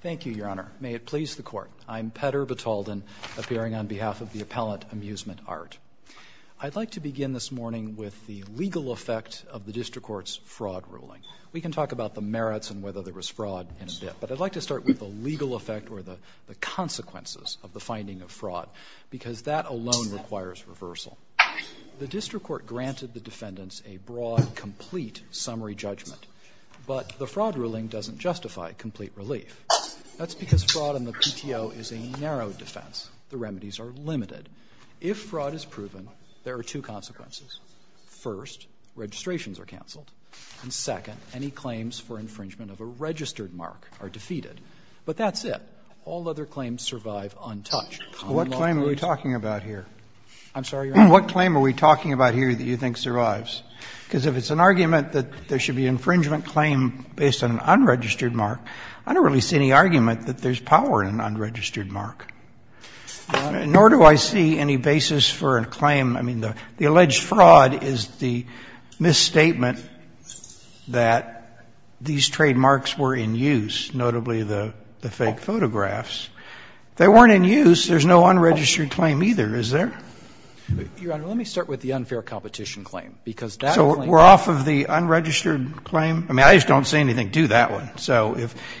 Thank you, Your Honor. May it please the Court. I'm Petter Batalden, appearing on behalf of the appellant Amusement Art. I'd like to begin this morning with the legal effect of the district court's fraud ruling. We can talk about the merits and whether there was fraud in a bit, but I'd like to start with the legal effect or the consequences of the finding of fraud, because that alone requires reversal. The district court granted the defendants a broad, complete summary judgment, but the fraud ruling doesn't justify complete relief. That's because fraud in the PTO is a narrow defense. The remedies are limited. If fraud is proven, there are two consequences. First, registrations are canceled, and second, any claims for infringement of a registered mark are defeated. But that's it. All other claims survive untouched. What claim are we talking about here? I'm sorry, Your Honor? What claim are we talking about here that you think survives? Because if it's an argument that there should be an infringement claim based on an unregistered mark, I don't really see any argument that there's power in an unregistered mark. Nor do I see any basis for a claim. I mean, the alleged fraud is the misstatement that these trademarks were in use, notably the fake photographs. They weren't in use. There's no unregistered claim either, is there? because that claim is not in use. We're off of the unregistered claim? I mean, I just don't see anything to that one. So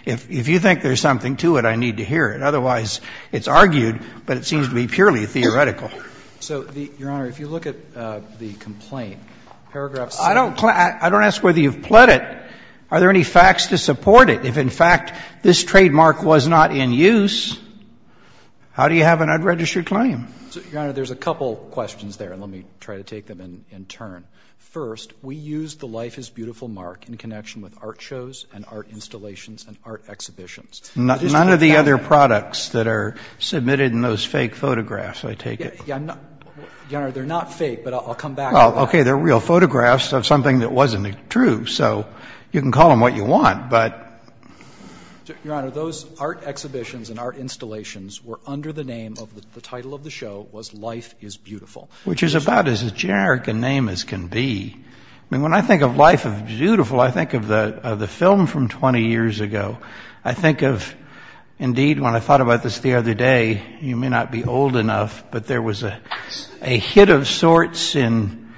if you think there's something to it, I need to hear it. Otherwise, it's argued, but it seems to be purely theoretical. So, Your Honor, if you look at the complaint, paragraph 6. I don't ask whether you've pled it. Are there any facts to support it? If, in fact, this trademark was not in use, how do you have an unregistered claim? There's a couple questions there, and let me try to take them in turn. First, we used the Life is Beautiful mark in connection with art shows and art installations and art exhibitions. None of the other products that are submitted in those fake photographs, I take it? Your Honor, they're not fake, but I'll come back to that. Well, OK, they're real photographs of something that wasn't true, so you can call them what you want. But, Your Honor, those art exhibitions and art installations were under the name of the title of the show was Life is Beautiful. Which is about as generic a name as can be. I mean, when I think of Life is Beautiful, I think of the film from 20 years ago. I think of, indeed, when I thought about this the other day, you may not be old enough, but there was a hit of sorts in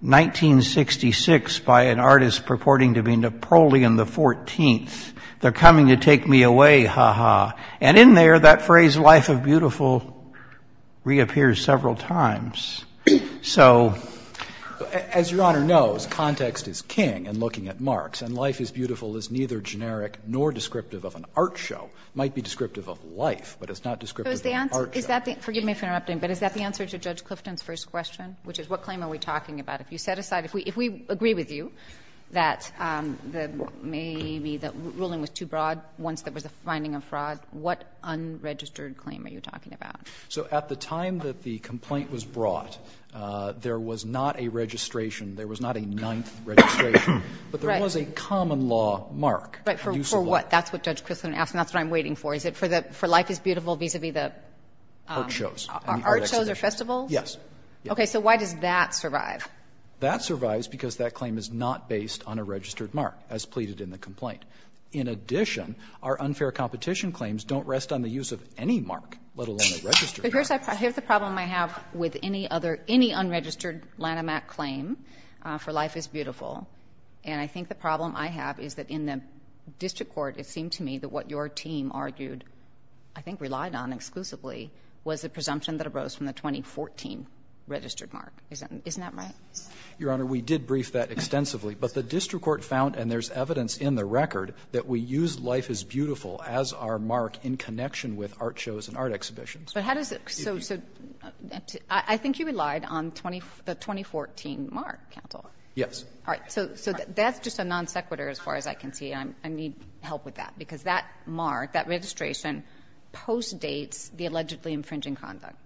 1966 by an artist purporting to be Napoleon XIV. They're coming to take me away, ha ha. And in there, that phrase Life is Beautiful reappears several times. So as Your Honor knows, context is king in looking at marks. And Life is Beautiful is neither generic nor descriptive of an art show. Might be descriptive of life, but it's not descriptive of an art show. Forgive me for interrupting, but is that the answer to Judge Clifton's first question, which is, what claim are we talking about? If you set aside, if we agree with you that maybe the ruling was too broad once there was a finding of fraud, what unregistered claim are you talking about? So at the time that the complaint was brought, there was not a registration. There was not a ninth registration. But there was a common law mark. Right, for what? That's what Judge Clifton asked, and that's what I'm waiting for. Is it for Life is Beautiful vis-a-vis the? Art shows. Art shows or festivals? Yes. Okay, so why does that survive? That survives because that claim is not based on a registered mark, as pleaded in the complaint. In addition, our unfair competition claims don't rest on the use of any mark, let alone a registered mark. But here's the problem I have with any other, any unregistered Lanham Act claim for Life is Beautiful, and I think the problem I have is that in the district court, it seemed to me that what your team argued, I think relied on exclusively, was the presumption that arose from the 2014 registered mark. Isn't that right? Your Honor, we did brief that extensively, but the district court found, and there's evidence in the record, that we use Life is Beautiful as our mark in connection with art shows and art exhibitions. But how does it, so, I think you relied on the 2014 mark, counsel. Yes. All right, so that's just a non sequitur as far as I can see, and I need help with that, because that mark, that registration, postdates the allegedly infringing conduct.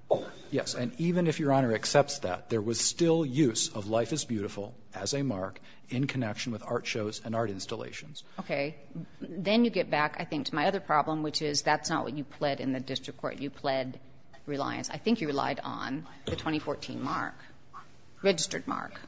Yes, and even if your Honor accepts that, there was still use of Life is Beautiful as a mark in connection with art shows and art installations. Okay, then you get back, I think, to my other problem, which is, that's not what you pled in the district court. You pled reliance. I think you relied on the 2014 mark, registered mark.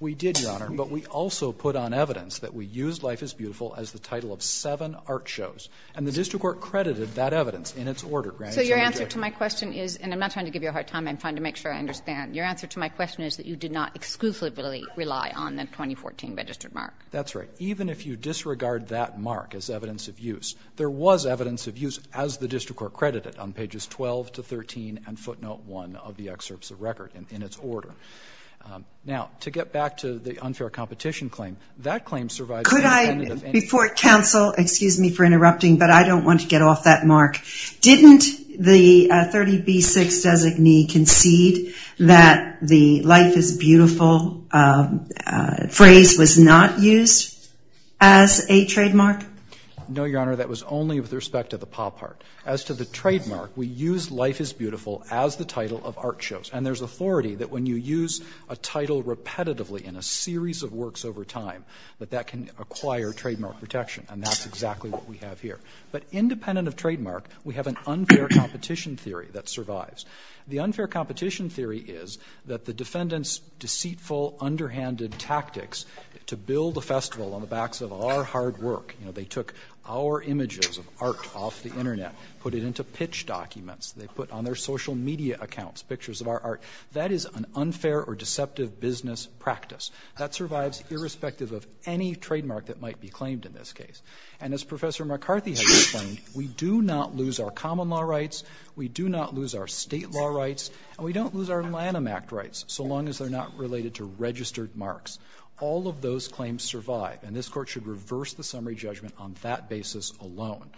We did, Your Honor, but we also put on evidence that we used Life is Beautiful as the title of seven art shows, and the district court credited that evidence in its order. So your answer to my question is, and I'm not trying to give you a hard time, I'm trying to make sure I understand, your answer to my question is that you did not exclusively rely on the 2014 registered mark. That's right. Even if you disregard that mark as evidence of use, there was evidence of use, as the district court credited, on pages 12 to 13, and footnote one of the excerpts of record, in its order. Now, to get back to the unfair competition claim, that claim survived. Could I, before counsel, excuse me for interrupting, but I don't want to get off that mark. Didn't the 30B6 designee concede that the Life is Beautiful phrase was not used as a trademark? No, Your Honor, that was only with respect to the paw part. As to the trademark, we used Life is Beautiful as the title of art shows, and there's authority that when you use a title repetitively in a series of works over time, that that can acquire trademark protection, and that's exactly what we have here. But independent of trademark, we have an unfair competition theory that survives. The unfair competition theory is that the defendant's deceitful, underhanded tactics to build a festival on the backs of our hard work, you know, they took our images of art off the internet, put it into pitch documents, they put on their social media accounts pictures of our art, that is an unfair or deceptive business practice. That survives irrespective of any trademark that might be claimed in this case. And as Professor McCarthy has explained, we do not lose our common law rights, we do not lose our state law rights, and we don't lose our Lanham Act rights, so long as they're not related to registered marks. All of those claims survive, and this court should reverse the summary judgment on that basis alone.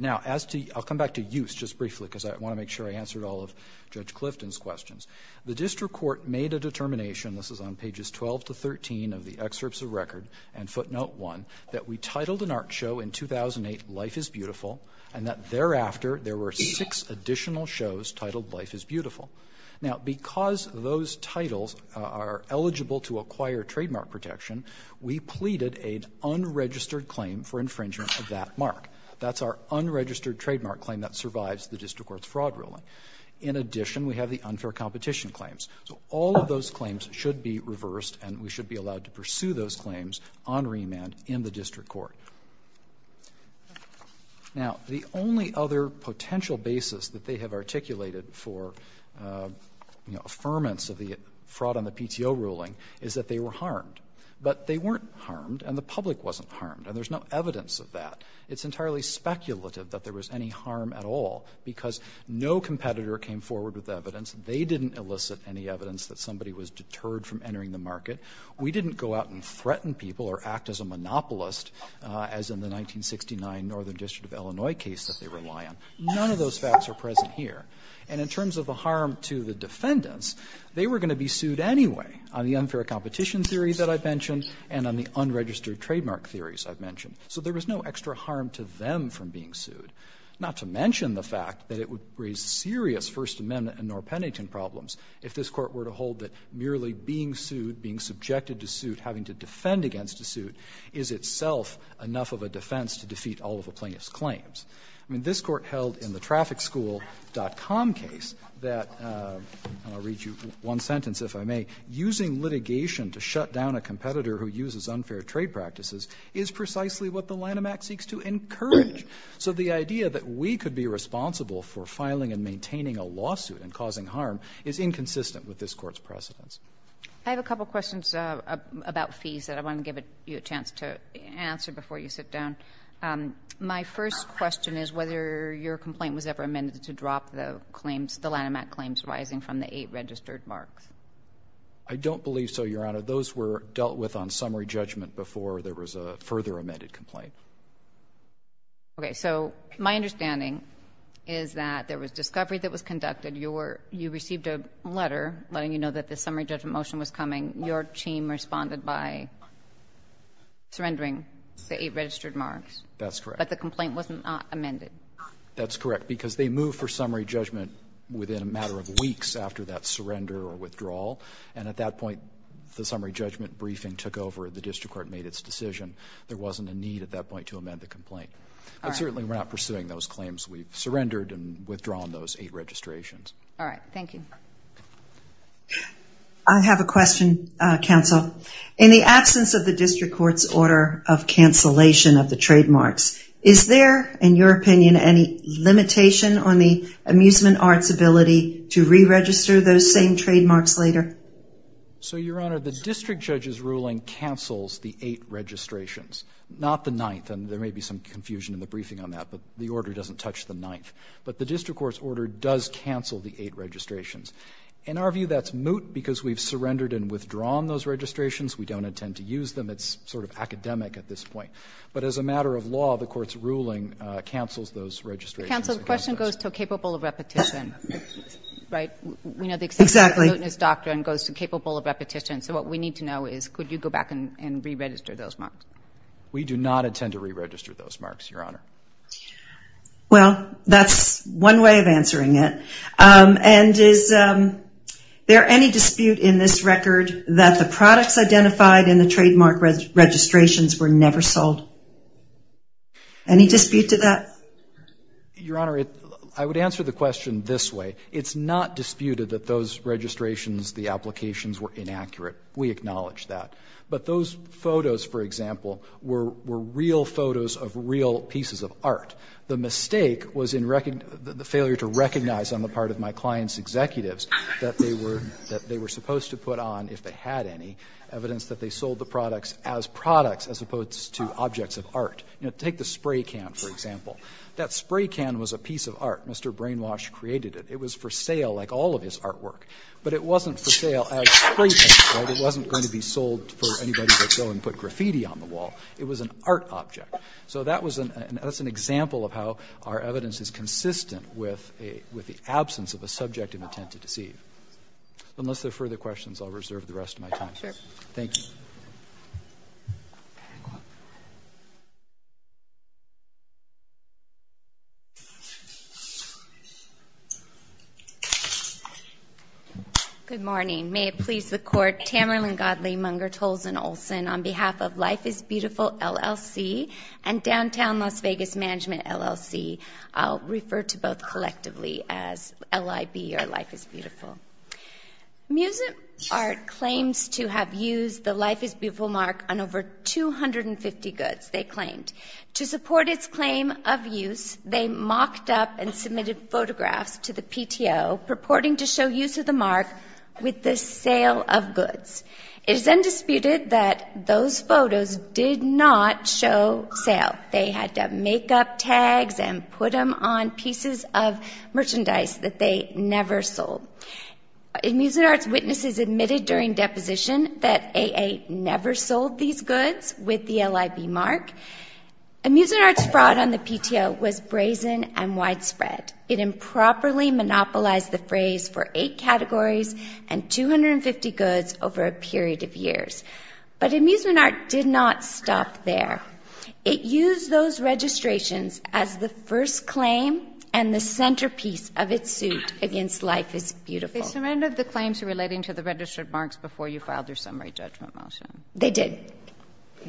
Now as to, I'll come back to use just briefly, because I want to make sure I answered all of Judge Clifton's questions. The district court made a determination, this is on pages 12 to 13 of the excerpts of record, and footnote one, that we titled an art show in 2008 Life is Beautiful, and that thereafter there were six additional shows titled Life is Beautiful. Now because those titles are eligible to acquire trademark protection, we pleaded an unregistered claim for infringement of that mark. That's our unregistered trademark claim that survives the district court's fraud ruling. In addition, we have the unfair competition claims. So all of those claims should be reversed, and we should be allowed to pursue those claims on remand in the district court. Now the only other potential basis that they have articulated for, you know, affirmance of the fraud on the PTO ruling is that they were harmed. But they weren't harmed, and the public wasn't harmed, and there's no evidence of that. It's entirely speculative that there was any harm at all, because no competitor came forward with evidence. They didn't elicit any evidence that somebody was deterred from entering the market. We didn't go out and threaten people, or act as a monopolist, as in the 1969 Northern District of Illinois case that they rely on. None of those facts are present here. And in terms of the harm to the defendants, they were going to be sued anyway on the unfair competition theory that I've mentioned and on the unregistered trademark theories I've mentioned. So there was no extra harm to them from being sued, not to mention the fact that it would raise serious First Amendment and Norr-Pennington problems if this court were to hold that merely being sued, being subjected to suit, having to defend against a suit is itself enough of a defense to defeat all of a plaintiff's claims. I mean, this court held in the TrafficSchool.com case that, I'll read you one sentence if I may, using litigation to shut down a competitor who uses unfair trade practices is precisely what the Lanham Act seeks to encourage. So the idea that we could be responsible for filing and maintaining a lawsuit and causing harm is inconsistent with this court's precedence. I have a couple questions about fees that I want to give you a chance to answer before you sit down. My first question is whether your complaint was ever amended to drop the claims, the Lanham Act claims rising from the eight registered marks. I don't believe so, Your Honor. Those were dealt with on summary judgment before there was a further amended complaint. Okay, so my understanding is that there was discovery that was conducted. You received a letter letting you know that the summary judgment motion was coming. Your team responded by surrendering the eight registered marks. That's correct. But the complaint was not amended. That's correct, because they moved for summary judgment within a matter of weeks after that surrender or withdrawal. And at that point, the summary judgment briefing took over. The district court made its decision. There wasn't a need at that point to amend the complaint. But certainly we're not pursuing those claims. We've surrendered and withdrawn those eight registrations. All right, thank you. I have a question, counsel. In the absence of the district court's order of cancellation of the trademarks, is there, in your opinion, any limitation on the amusement arts ability to re-register those same trademarks later? So, Your Honor, the district judge's ruling cancels the eight registrations, not the ninth. And there may be some confusion in the briefing on that, but the order doesn't touch the ninth. But the district court's order does cancel the eight registrations. In our view, that's moot, because we've surrendered and withdrawn those registrations. We don't intend to use them. It's sort of academic at this point. But as a matter of law, the court's ruling cancels those registrations. Counsel, the question goes to capable of repetition, right? We know the acceptance of mootness doctrine goes to capable of repetition. So what we need to know is, could you go back and re-register those marks? We do not intend to re-register those marks, Your Honor. Well, that's one way of answering it. And is there any dispute in this record that the products identified in the trademark registrations were never sold? Any dispute to that? Your Honor, I would answer the question this way. It's not disputed that those registrations, the applications, were inaccurate. We acknowledge that. But those photos, for example, were real photos of real pieces of art. The mistake was the failure to recognize on the part of my client's executives that they were supposed to put on, if they had any, evidence that they sold the products as products as opposed to objects of art. You know, take the spray can, for example. That spray can was a piece of art. Mr. Brainwash created it. It was for sale, like all of his artwork. But it wasn't for sale as spray cans, right? It wasn't going to be sold for anybody to go and put graffiti on the wall. It was an art object. So that's an example of how our evidence is consistent with the absence of a subject of intent to deceive. Unless there are further questions, I'll reserve the rest of my time. Thank you. Good morning. May it please the Court, Tamerlan Godley, Munger, Tolson, Olson, on behalf of Life is Beautiful, LLC and Downtown Las Vegas Management, LLC, I'll refer to both collectively as LIB, or Life is Beautiful. Music Art claims to have used the Life is Beautiful mark on over 250 goods, they claimed. To support its claim of use, they mocked up and submitted photographs to the PTO purporting to show use of the mark with the sale of goods. It is undisputed that those photos did not show sale. They had to make up tags and put them on pieces of merchandise that they never sold. In Music Art's witnesses admitted during deposition that AA never sold these goods with the LIB mark. In Music Art's fraud on the PTO was brazen and widespread. It improperly monopolized the phrase for eight categories and 250 goods over a period of years. But in Music Art did not stop there. It used those registrations as the first claim and the centerpiece of its suit against Life is Beautiful. They surrendered the claims relating to the registered marks before you filed your summary judgment motion. They did.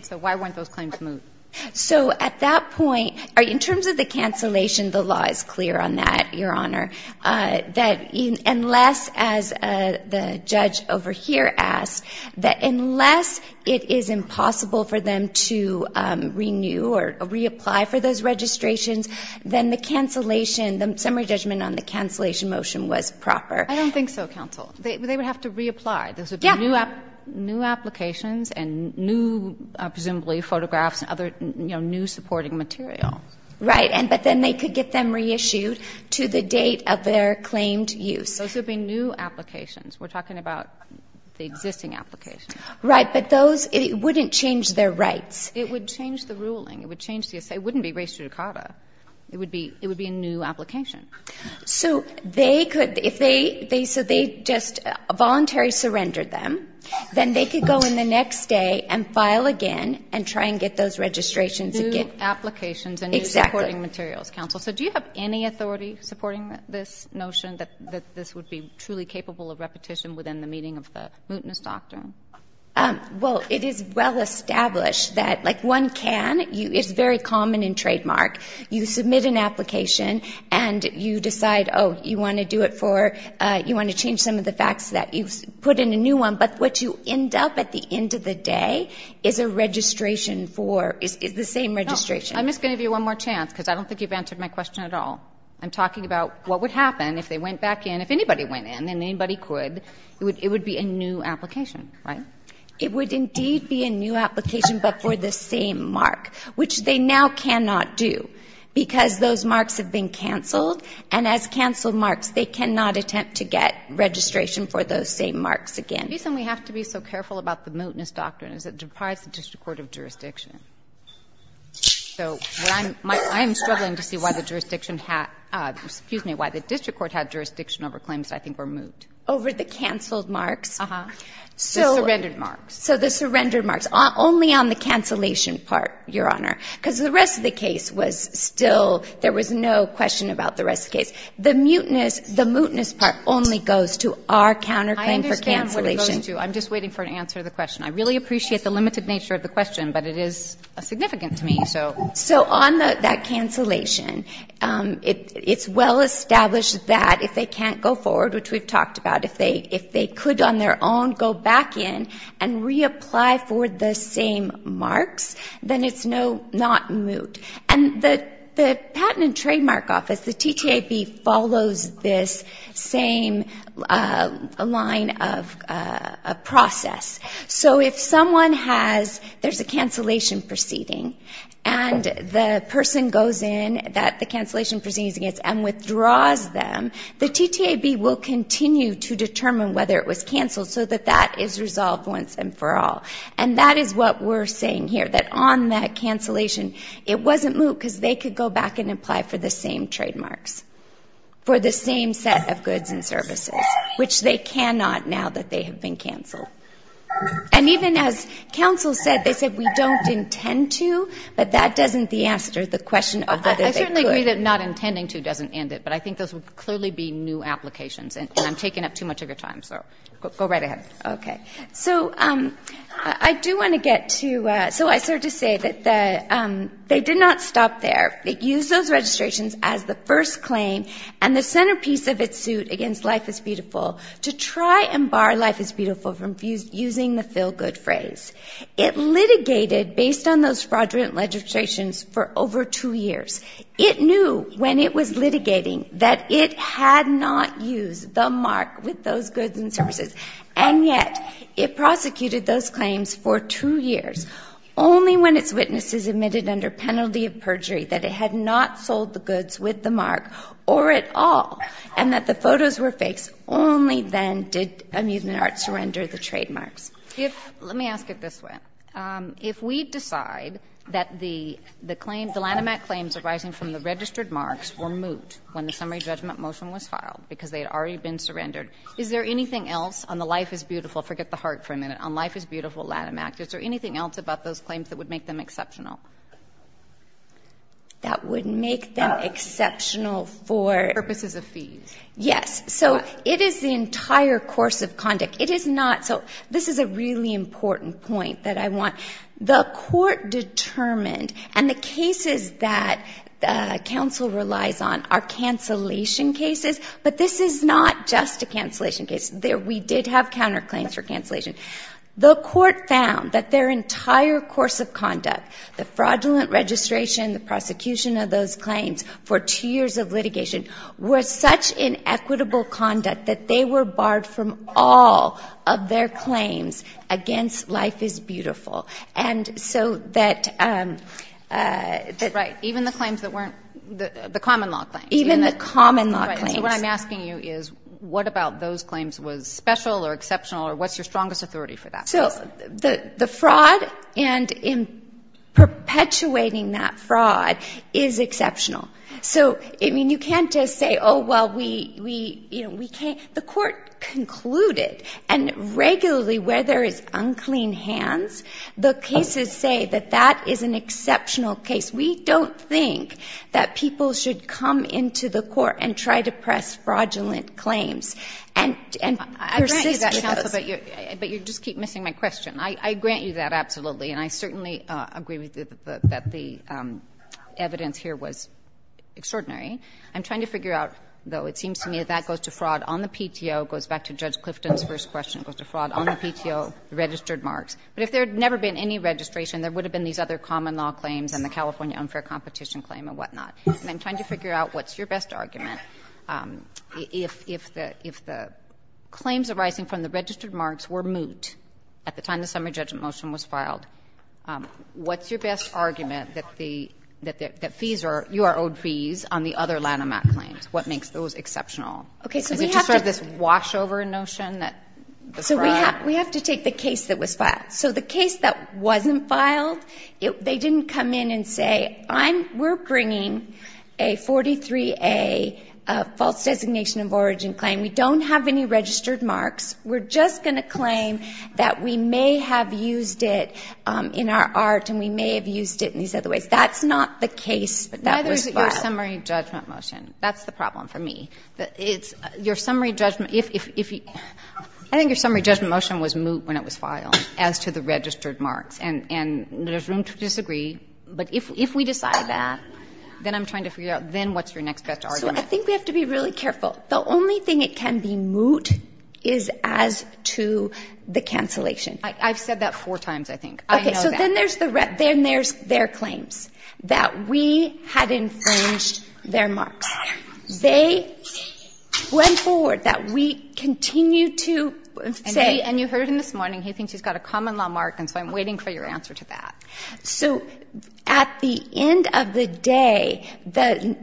So why weren't those claims moved? So at that point, in terms of the cancellation, the law is clear on that, Your Honor. That unless, as the judge over here asked, that unless it is impossible for them to renew or reapply for those registrations, then the cancellation, the summary judgment on the cancellation motion was proper. I don't think so, counsel. They would have to reapply. Those would be new applications and new, presumably photographs and other new supporting material. Right, but then they could get them reissued to the date of their claimed use. Those would be new applications. We're talking about the existing applications. Right, but those, it wouldn't change their rights. It would change the ruling. It would change the, it wouldn't be res judicata. It would be a new application. So they could, if they, so they just voluntarily surrendered them, then they could go in the next day and file again and try and get those registrations again. New applications and new supporting materials, counsel. So do you have any authority supporting this notion that this would be truly capable of repetition within the meaning of the mootness doctrine? Well, it is well established that like one can, it's very common in trademark. You submit an application and you decide, oh, you want to do it for, you want to change some of the facts that you've put in a new one, but what you end up at the end of the day is a registration for, is the same registration. I'm just going to give you one more chance because I don't think you've answered my question at all. I'm talking about what would happen if they went back in, if anybody went in and anybody could, it would be a new application, right? It would indeed be a new application, but for the same mark, which they now cannot do because those marks have been canceled. And as canceled marks, they cannot attempt to get registration for those same marks again. The reason we have to be so careful about the mootness doctrine is it deprives the district court of jurisdiction. So I'm struggling to see why the jurisdiction has, excuse me, why the district court had jurisdiction over claims that I think were moot. Over the canceled marks? Uh-huh, the surrendered marks. So the surrendered marks, only on the cancellation part, Your Honor, because the rest of the case was still, there was no question about the rest of the case. The mootness part only goes to our counterclaim for cancellation. I'm just waiting for an answer to the question. I really appreciate the limited nature of the question, but it is significant to me, so. So on that cancellation, it's well-established that if they can't go forward, which we've talked about, if they could on their own go back in and reapply for the same marks, then it's not moot. And the Patent and Trademark Office, the TTAB, follows this same line of process. So if someone has, there's a cancellation proceeding, and the person goes in, that the cancellation proceeding is against, and withdraws them, the TTAB will continue to determine whether it was canceled so that that is resolved once and for all. And that is what we're saying here, that on that cancellation, it wasn't moot because they could go back and apply for the same trademarks, for the same set of goods and services, which they cannot now that they have been canceled. And even as counsel said, they said, we don't intend to, but that doesn't answer the question of whether they could. I certainly agree that not intending to doesn't end it, but I think those would clearly be new applications, and I'm taking up too much of your time, so go right ahead. Okay, so I do want to get to, so I started to say that they did not stop there. They used those registrations as the first claim, and the centerpiece of its suit against Life is Beautiful to try and bar Life is Beautiful from using the feel-good phrase. It litigated based on those fraudulent legislations for over two years. It knew when it was litigating that it had not used the mark with those goods and services, and yet it prosecuted those claims for two years, only when its witnesses admitted under penalty of perjury that it had not sold the goods with the mark or at all, and that the photos were fakes. Only then did Amusement Arts surrender the trademarks. Let me ask it this way. If we decide that the claim, the Lanham Act claims arising from the registered marks were moot when the summary judgment motion was filed because they had already been surrendered, is there anything else on the Life is Beautiful, forget the heart for a minute, on Life is Beautiful Lanham Act, is there anything else about those claims that would make them exceptional? That would make them exceptional for purposes of fees? Yes, so it is the entire course of conduct. It is not, so this is a really important point that I want. The court determined, and the cases that counsel relies on are cancellation cases, but this is not just a cancellation case. We did have counterclaims for cancellation. The court found that their entire course of conduct, the fraudulent registration, the prosecution of those claims for two years of litigation were such inequitable conduct that they were barred from all of their claims against Life is Beautiful. And so that- Right, even the claims that weren't, the common law claims. Even the common law claims. So what I'm asking you is, what about those claims was special or exceptional, or what's your strongest authority for that? So the fraud and in perpetuating that fraud is exceptional. So, I mean, you can't just say, oh, well, we can't. The court concluded, and regularly where there is unclean hands, the cases say that that is an exceptional case. We don't think that people should come into the court and try to press fraudulent claims, and persist with those. I grant you that counsel, but you just keep missing my question. I grant you that absolutely, and I certainly agree with you that the evidence here was extraordinary. I'm trying to figure out, though, it seems to me that that goes to fraud on the PTO, goes back to Judge Clifton's first question, goes to fraud on the PTO, registered marks. But if there had never been any registration, there would have been these other common law claims and the California unfair competition claim and whatnot. And I'm trying to figure out what's your best argument. If the claims arising from the registered marks were moot at the time the summary judgment motion was filed, what's your best argument that you are owed fees on the other Lanham Act claims? What makes those exceptional? Is it just sort of this wash over notion that the fraud? We have to take the case that was filed. So the case that wasn't filed, they didn't come in and say, we're bringing a 43A false designation of origin claim. We don't have any registered marks. We're just gonna claim that we may have used it in our art and we may have used it in these other ways. That's not the case that was filed. Now there's your summary judgment motion. That's the problem for me. That it's your summary judgment. I think your summary judgment motion was moot when it was filed as to the registered marks. And there's room to disagree. But if we decide that, then I'm trying to figure out, then what's your next best argument? So I think we have to be really careful. The only thing it can be moot is as to the cancellation. I've said that four times, I think. Okay, so then there's their claims that we had infringed their marks. They went forward that we continue to say- And you heard him this morning, he thinks he's got a common law mark. And so I'm waiting for your answer to that. So at the end of the day, the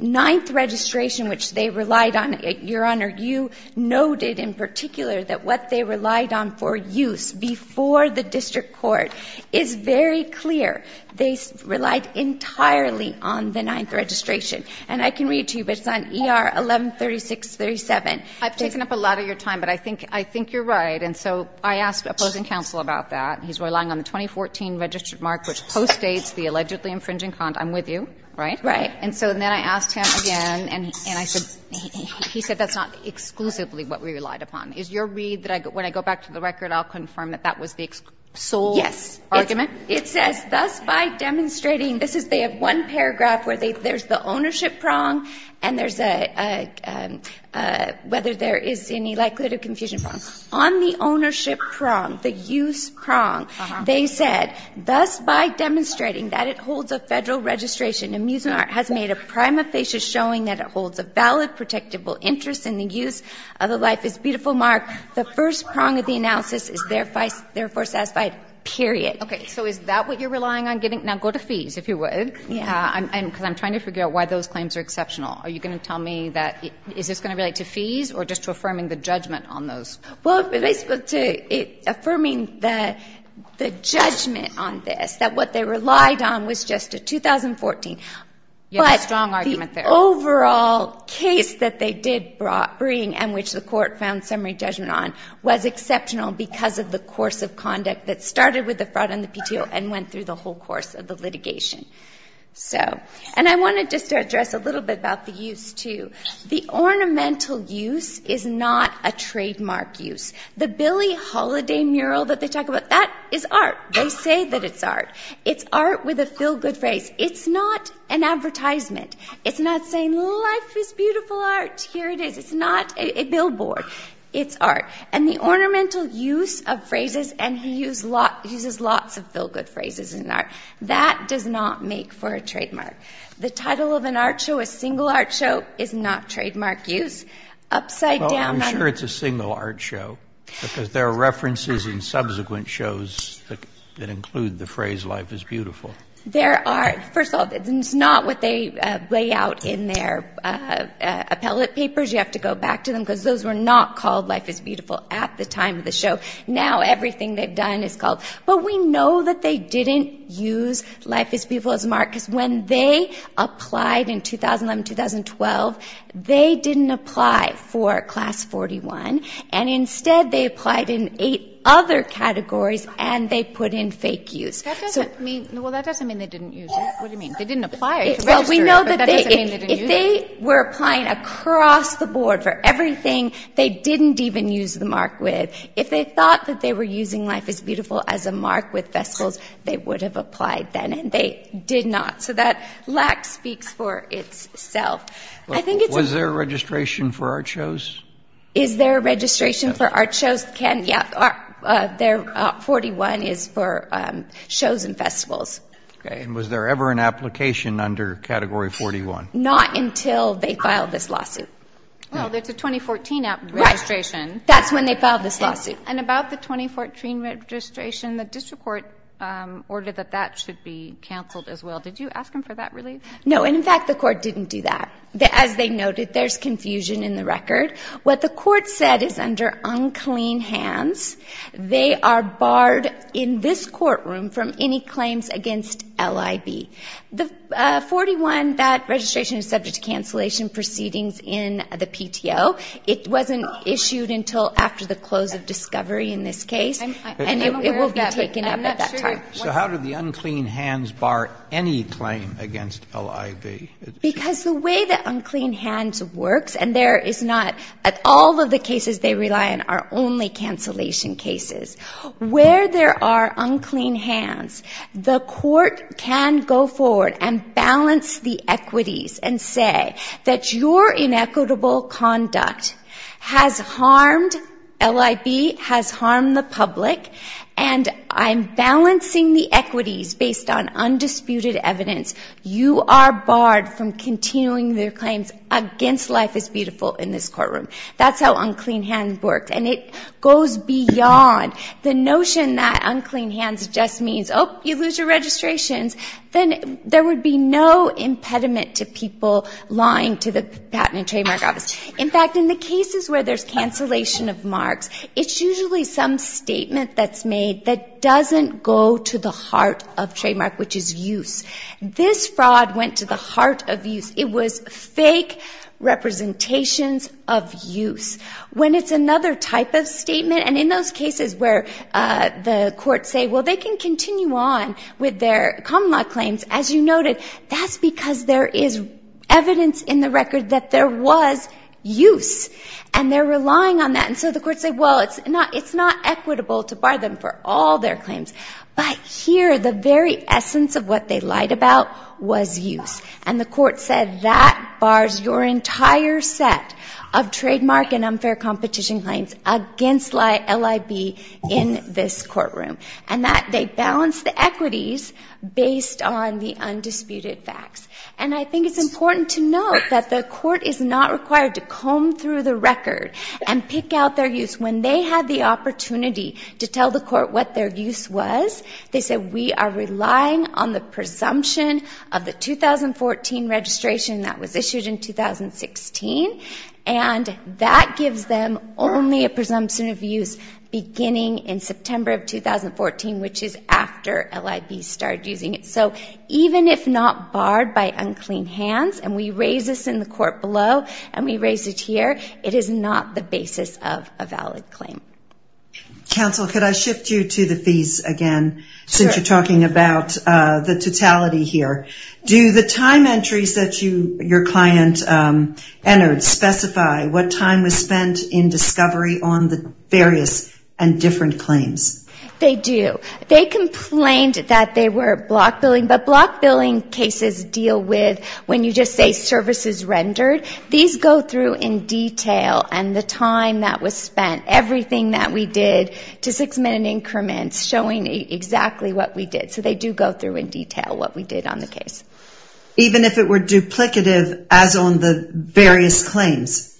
ninth registration, which they relied on, Your Honor, you noted in particular that what they relied on for use before the district court is very clear. They relied entirely on the ninth registration. And I can read to you, but it's on ER 1136-37. I've taken up a lot of your time, but I think you're right. And so I asked opposing counsel about that. He's relying on the 2014 registered mark, which postdates the allegedly infringing content. I'm with you, right? Right. And so then I asked him again, and he said that's not exclusively what we relied upon. Is your read that when I go back to the record, I'll confirm that that was the sole argument? It says, thus by demonstrating, this is they have one paragraph where there's the ownership prong, and whether there is any likelihood of confusion prong. On the ownership prong, the use prong, they said, thus by demonstrating that it holds a federal registration, amusement art has made a prima facie showing that it holds a valid, protectable interest in the use of the life is beautiful mark. The first prong of the analysis is therefore satisfied, period. Okay, so is that what you're relying on getting? Now go to fees, if you would. Yeah. And because I'm trying to figure out why those claims are exceptional. Are you going to tell me that, is this going to relate to fees or just to affirming the judgment on those? Well, it relates to affirming the judgment on this, that what they relied on was just a 2014, but the overall case that they did bring and which the court found summary judgment on was exceptional because of the course of conduct that started with the fraud and the PTO and went through the whole course of the litigation. So, and I wanted just to address a little bit about the use too. The ornamental use is not a trademark use. The Billie Holiday mural that they talk about, that is art, they say that it's art. It's art with a feel-good phrase. It's not an advertisement. It's not saying life is beautiful art, here it is. It's not a billboard, it's art. And the ornamental use of phrases, and he uses lots of feel-good phrases in art, that does not make for a trademark. The title of an art show, a single art show, is not trademark use. Upside down. Well, I'm sure it's a single art show because there are references in subsequent shows that include the phrase life is beautiful. There are. First of all, it's not what they lay out in their appellate papers. You have to go back to them because those were not called life is beautiful at the time of the show. Now, everything they've done is called. But we know that they didn't use life is beautiful as mark because when they applied in 2011, 2012, they didn't apply for class 41. And instead, they applied in eight other categories and they put in fake use. So. Well, that doesn't mean they didn't use it. What do you mean? They didn't apply. Well, we know that if they were applying across the board for everything, they didn't even use the mark with. If they thought that they were using life is beautiful as a mark with festivals, they would have applied then and they did not. So that lacks speaks for itself. I think it's. Was there a registration for art shows? Is there a registration for art shows? Can, yeah. There 41 is for shows and festivals. Great. And was there ever an application under category 41? Not until they filed this lawsuit. Well, there's a 2014 registration. That's when they filed this lawsuit. And about the 2014 registration, the district court ordered that that should be canceled as well. Did you ask them for that relief? No, and in fact, the court didn't do that. As they noted, there's confusion in the record. What the court said is under unclean hands. They are barred in this courtroom from any claims against LIB. The 41, that registration is subject to cancellation proceedings in the PTO. It wasn't issued until after the close of discovery in this case. And it will be taken up at that time. So how did the unclean hands bar any claim against LIB? Because the way that unclean hands works and there is not at all of the cases they rely on are only cancellation cases. Where there are unclean hands, the court can go forward and balance the equities and say that your inequitable conduct has harmed LIB, has harmed the public, and I'm balancing the equities based on undisputed evidence. You are barred from continuing their claims against Life is Beautiful in this courtroom. That's how unclean hands works. And it goes beyond the notion that unclean hands just means, oh, you lose your registrations. Then there would be no impediment to people lying to the patent and trademark office. In fact, in the cases where there's cancellation of marks, it's usually some statement that's made that doesn't go to the heart of trademark, which is use. This fraud went to the heart of use. It was fake representations of use. When it's another type of statement, and in those cases where the courts say, well, they can continue on with their common law claims, as you noted, that's because there is evidence in the record that there was use. And they're relying on that. And so the courts say, well, it's not equitable to bar them for all their claims. But here, the very essence of what they lied about was use. And the court said that bars your entire set of trademark and unfair competition claims against LIB in this courtroom. And that they balance the equities based on the undisputed facts. And I think it's important to note that the court is not required to comb through the record and pick out their use. When they had the opportunity to tell the court what their use was, they said, we are relying on the presumption of the 2014 registration that was issued in 2016. And that gives them only a presumption of use beginning in September of 2014, which is after LIB started using it. So even if not barred by unclean hands, and we raise this in the court below, and we raise it here, it is not the basis of a valid claim. Council, could I shift you to the fees again? Since you're talking about the totality here. Do the time entries that your client entered specify what time was spent in discovery on the various and different claims? They do. They complained that they were block billing, but block billing cases deal with when you just say services rendered. These go through in detail, and the time that was spent, everything that we did to six minute increments showing exactly what we did. So they do go through in detail what we did on the case. Even if it were duplicative as on the various claims,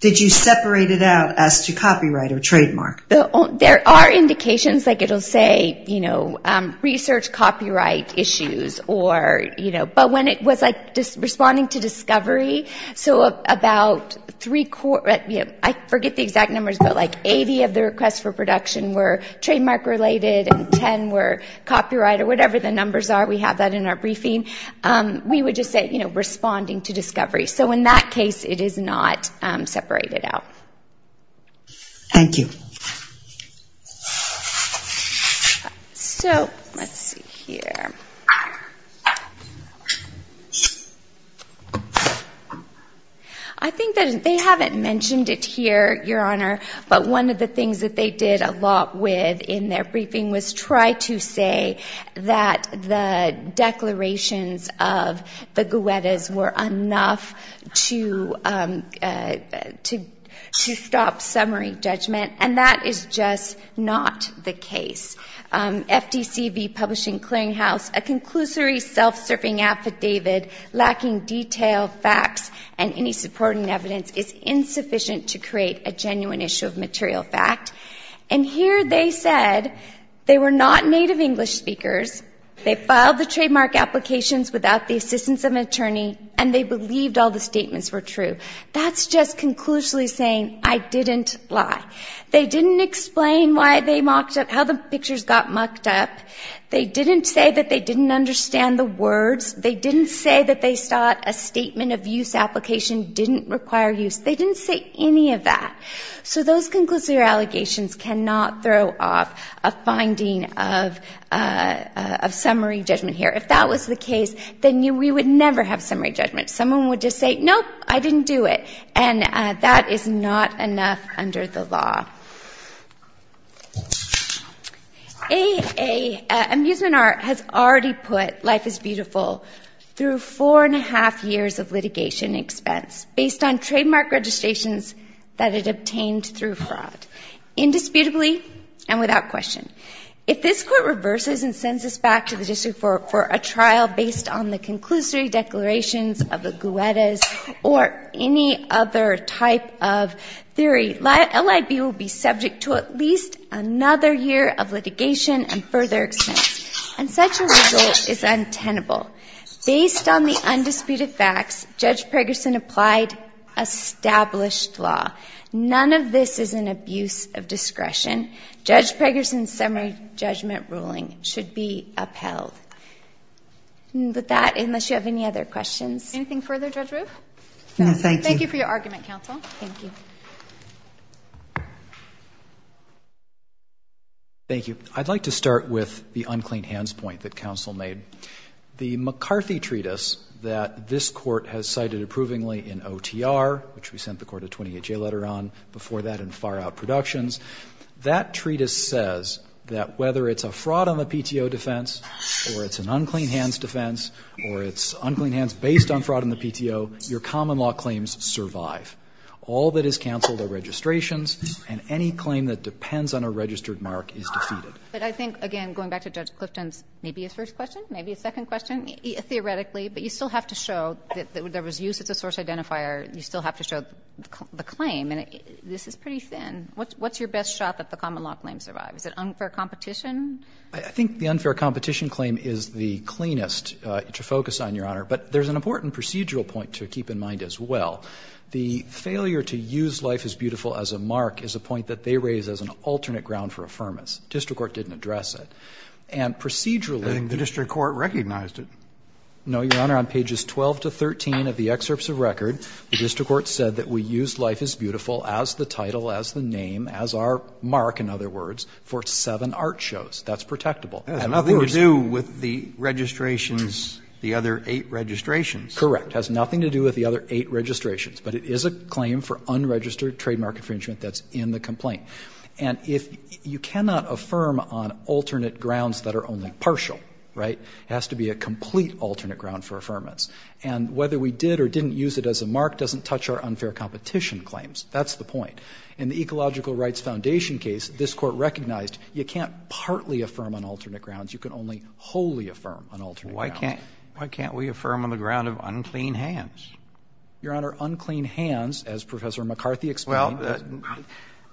did you separate it out as to copyright or trademark? There are indications, like it'll say, you know, research copyright issues or, you know, but when it was like responding to discovery, so about three, I forget the exact numbers, but like 80 of the requests for production were trademark related and 10 were copyright or whatever the numbers are. We have that in our briefing. We would just say, you know, responding to discovery. So in that case, it is not separated out. Thank you. So let's see here. I think that they haven't mentioned it here, Your Honor, but one of the things that they did a lot with in their briefing was try to say that the declarations of the Guettas were enough to stop summary judgment, and that is just not the case. FDCB publishing clearinghouse, a conclusory self-serving affidavit lacking detailed facts and any supporting evidence is insufficient to create a genuine issue of material fact. And here they said they were not native English speakers. They filed the trademark applications without the assistance of an attorney, and they believed all the statements were true. That's just conclusively saying, I didn't lie. They didn't explain why they mocked up, how the pictures got mocked up. They didn't say that they didn't understand the words. They didn't say that they thought a statement of use application didn't require use. They didn't say any of that. So those conclusive allegations cannot throw off a finding of summary judgment here. If that was the case, then we would never have summary judgment. Someone would just say, nope, I didn't do it, and that is not enough under the law. A, Amusement Art has already put Life is Beautiful through four and a half years of litigation expense based on trademark registrations that it obtained through fraud, indisputably and without question. If this court reverses and sends us back to the district for a trial based on the conclusory declarations of the Guettas or any other type of theory, LIB will be subject to at least another year of litigation and further expense. And such a rule is untenable. Based on the undisputed facts, Judge Pregerson applied established law. None of this is an abuse of discretion. Judge Pregerson's summary judgment ruling should be upheld. With that, unless you have any other questions. Anything further, Judge Roof? No, thank you. Thank you for your argument, counsel. Thank you. Thank you. I'd like to start with the unclean hands point that counsel made. The McCarthy treatise that this court has cited approvingly in OTR, which we sent the court a 28-J letter on before that in Far Out Productions, that treatise says that whether it's a fraud on the PTO defense or it's an unclean hands defense or it's unclean hands based on fraud in the PTO, your common law claims survive. All that is canceled are registrations and any claim that depends on a registered mark is defeated. But I think, again, going back to Judge Clifton's maybe a first question, maybe a second question, theoretically, but you still have to show that there was use as a source identifier. You still have to show the claim. And this is pretty thin. What's your best shot that the common law claims survive? Is it unfair competition? I think the unfair competition claim is the cleanest to focus on, Your Honor. But there's an important procedural point to keep in mind as well. The failure to use Life is Beautiful as a mark is a point that they raise as an alternate ground for affirmance. District Court didn't address it. And procedurally- I think the district court recognized it. No, Your Honor. On pages 12 to 13 of the excerpts of record, the district court said that we used Life is Beautiful as the title, as the name, as our mark, in other words, for seven art shows. That's protectable. That has nothing to do with the registrations, the other eight registrations. Correct. The district court has nothing to do with the other eight registrations, but it is a claim for unregistered trademark infringement that's in the complaint. And if you cannot affirm on alternate grounds that are only partial, right, it has to be a complete alternate ground for affirmance. And whether we did or didn't use it as a mark doesn't touch our unfair competition claims. That's the point. In the Ecological Rights Foundation case, this court recognized you can't partly affirm on alternate grounds. You can only wholly affirm on alternate grounds. Why can't we affirm on the ground of unclean hands? Your Honor, unclean hands, as Professor McCarthy explained. Well,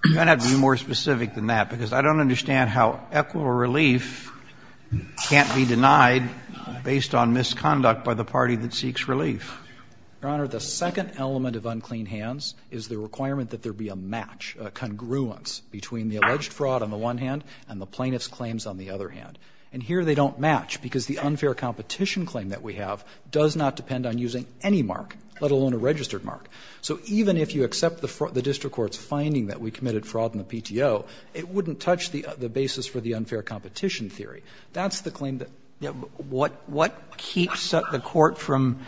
you might have to be more specific than that, because I don't understand how equitable relief can't be denied based on misconduct by the party that seeks relief. Your Honor, the second element of unclean hands is the requirement that there be a match, a congruence between the alleged fraud on the one hand and the plaintiff's claims on the other hand. And here they don't match because the unfair competition claim that we have does not depend on using any mark, let alone a registered mark. So even if you accept the district court's finding that we committed fraud in the PTO, it wouldn't touch the basis for the unfair competition theory. That's the claim that we're talking about. What keeps the court from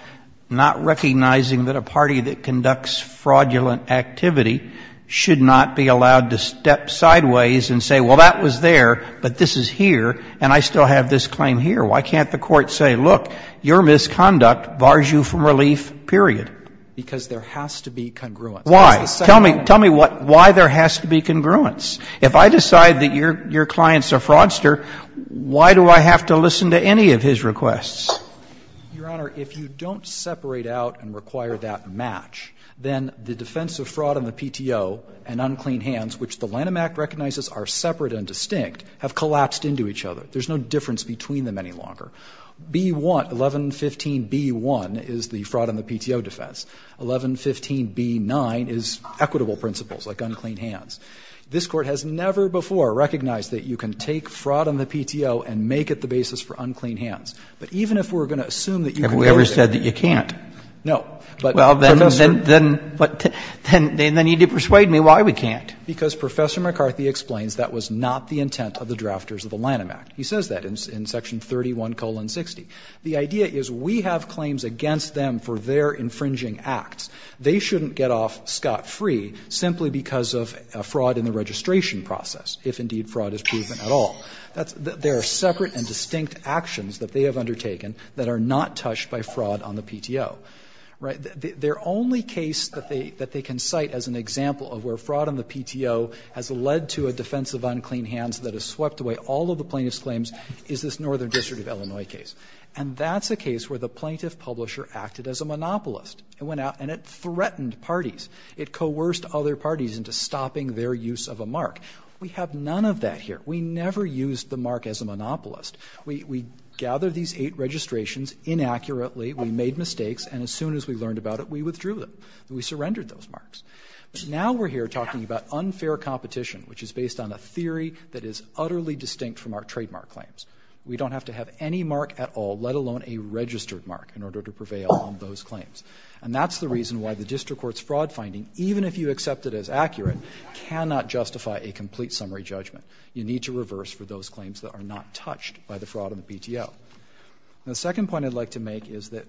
not recognizing that a party that conducts fraudulent activity should not be allowed to step sideways and say, well, that was there, but this is here, and I still have this claim here. Why can't the court say, look, your misconduct bars you from relief, period? Because there has to be congruence. Why? Tell me why there has to be congruence. If I decide that your clients are fraudster, why do I have to listen to any of his requests? Your Honor, if you don't separate out and require that match, then the defense of fraud on the PTO and unclean hands, which the Lanham Act recognizes are separate and distinct, have collapsed into each other. There's no difference between them any longer. B-1, 1115b-1 is the fraud on the PTO defense. 1115b-9 is equitable principles, like unclean hands. This Court has never before recognized that you can take fraud on the PTO and make it the basis for unclean hands. But even if we're going to assume that you can do it. Have we ever said that you can't? No. But, Professor — Well, then you need to persuade me why we can't. Because Professor McCarthy explains that was not the intent of the drafters of the Lanham Act. He says that in section 31, colon, 60. The idea is we have claims against them for their infringing acts. They shouldn't get off scot-free simply because of fraud in the registration process, if indeed fraud is proven at all. There are separate and distinct actions that they have undertaken that are not touched by fraud on the PTO. Their only case that they can cite as an example of where fraud on the PTO has led to a defense of unclean hands that has swept away all of the plaintiff's claims is this Northern District of Illinois case. And that's a case where the plaintiff publisher acted as a monopolist. It went out and it threatened parties. It coerced other parties into stopping their use of a mark. We have none of that here. We never used the mark as a monopolist. We gathered these eight registrations inaccurately. We made mistakes. And as soon as we learned about it, we withdrew them. We surrendered those marks. Now we're here talking about unfair competition, which is based on a theory that is utterly distinct from our trademark claims. We don't have to have any mark at all, let alone a registered mark, in order to prevail on those claims. And that's the reason why the district court's fraud finding, even if you accept it as accurate, cannot justify a complete summary judgment. You need to reverse for those claims that are not touched by the fraud on the PTO. The second point I'd like to make is that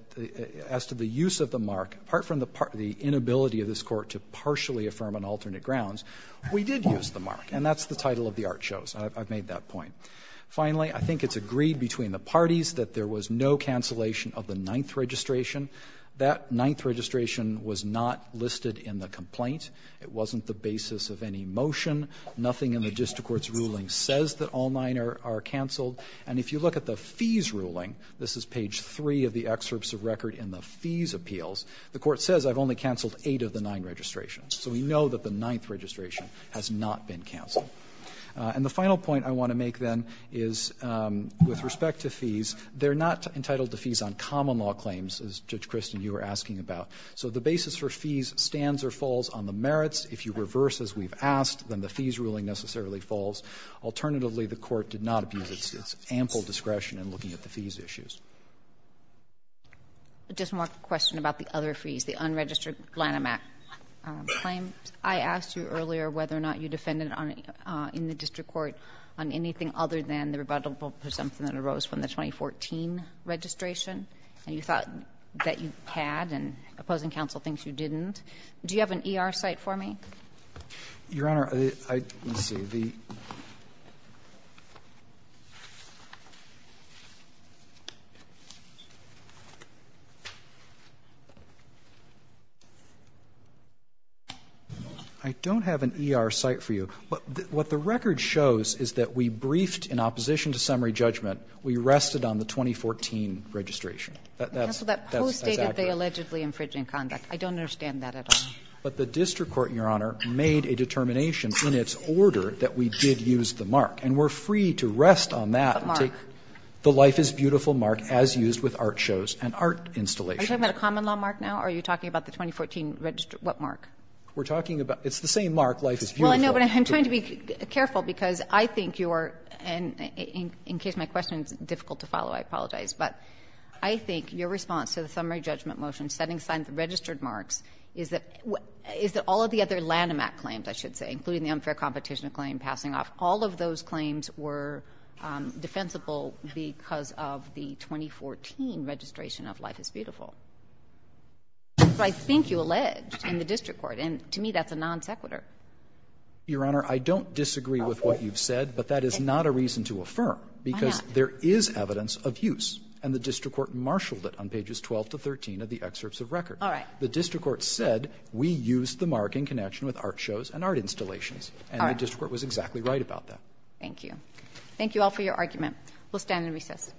as to the use of the mark, apart from the inability of this Court to partially affirm on alternate grounds, we did use the mark. And that's the title of the art shows. I've made that point. Finally, I think it's agreed between the parties that there was no cancellation of the ninth registration. That ninth registration was not listed in the complaint. It wasn't the basis of any motion. Nothing in the district court's ruling says that all nine are canceled. And if you look at the fees ruling, this is page 3 of the excerpts of record in the So we know that the ninth registration has not been canceled. And the final point I want to make, then, is with respect to fees, they're not entitled to fees on common law claims, as, Judge Kristin, you were asking about. So the basis for fees stands or falls on the merits. If you reverse as we've asked, then the fees ruling necessarily falls. Alternatively, the Court did not abuse its ample discretion in looking at the fees issues. Just one more question about the other fees, the unregistered Lanham Act claims. I asked you earlier whether or not you defended in the district court on anything other than the rebuttable presumption that arose from the 2014 registration, and you thought that you had. And opposing counsel thinks you didn't. Do you have an ER site for me? Your Honor, I don't have an ER site for you. But what the record shows is that we briefed, in opposition to summary judgment, we rested on the 2014 registration. Counsel, that post stated they allegedly infringed in conduct. I don't understand that at all. But the district court, Your Honor, made a determination in its order that we did use the mark. And we're free to rest on that and take the life is beautiful mark as used with art shows and art installations. Are you talking about a common law mark now, or are you talking about the 2014 registered, what mark? We're talking about, it's the same mark, life is beautiful. Well, I know, but I'm trying to be careful, because I think you are, and in case I'm wrong, is that all of the other Lanham Act claims, I should say, including the unfair competition claim, passing off, all of those claims were defensible because of the 2014 registration of life is beautiful. I think you alleged in the district court, and to me, that's a non sequitur. Your Honor, I don't disagree with what you've said, but that is not a reason to affirm, because there is evidence of use. And the district court marshaled it on pages 12 to 13 of the excerpts of record. All right. The district court said, we used the mark in connection with art shows and art installations, and the district court was exactly right about that. Thank you. Thank you all for your argument. We'll stand in recess.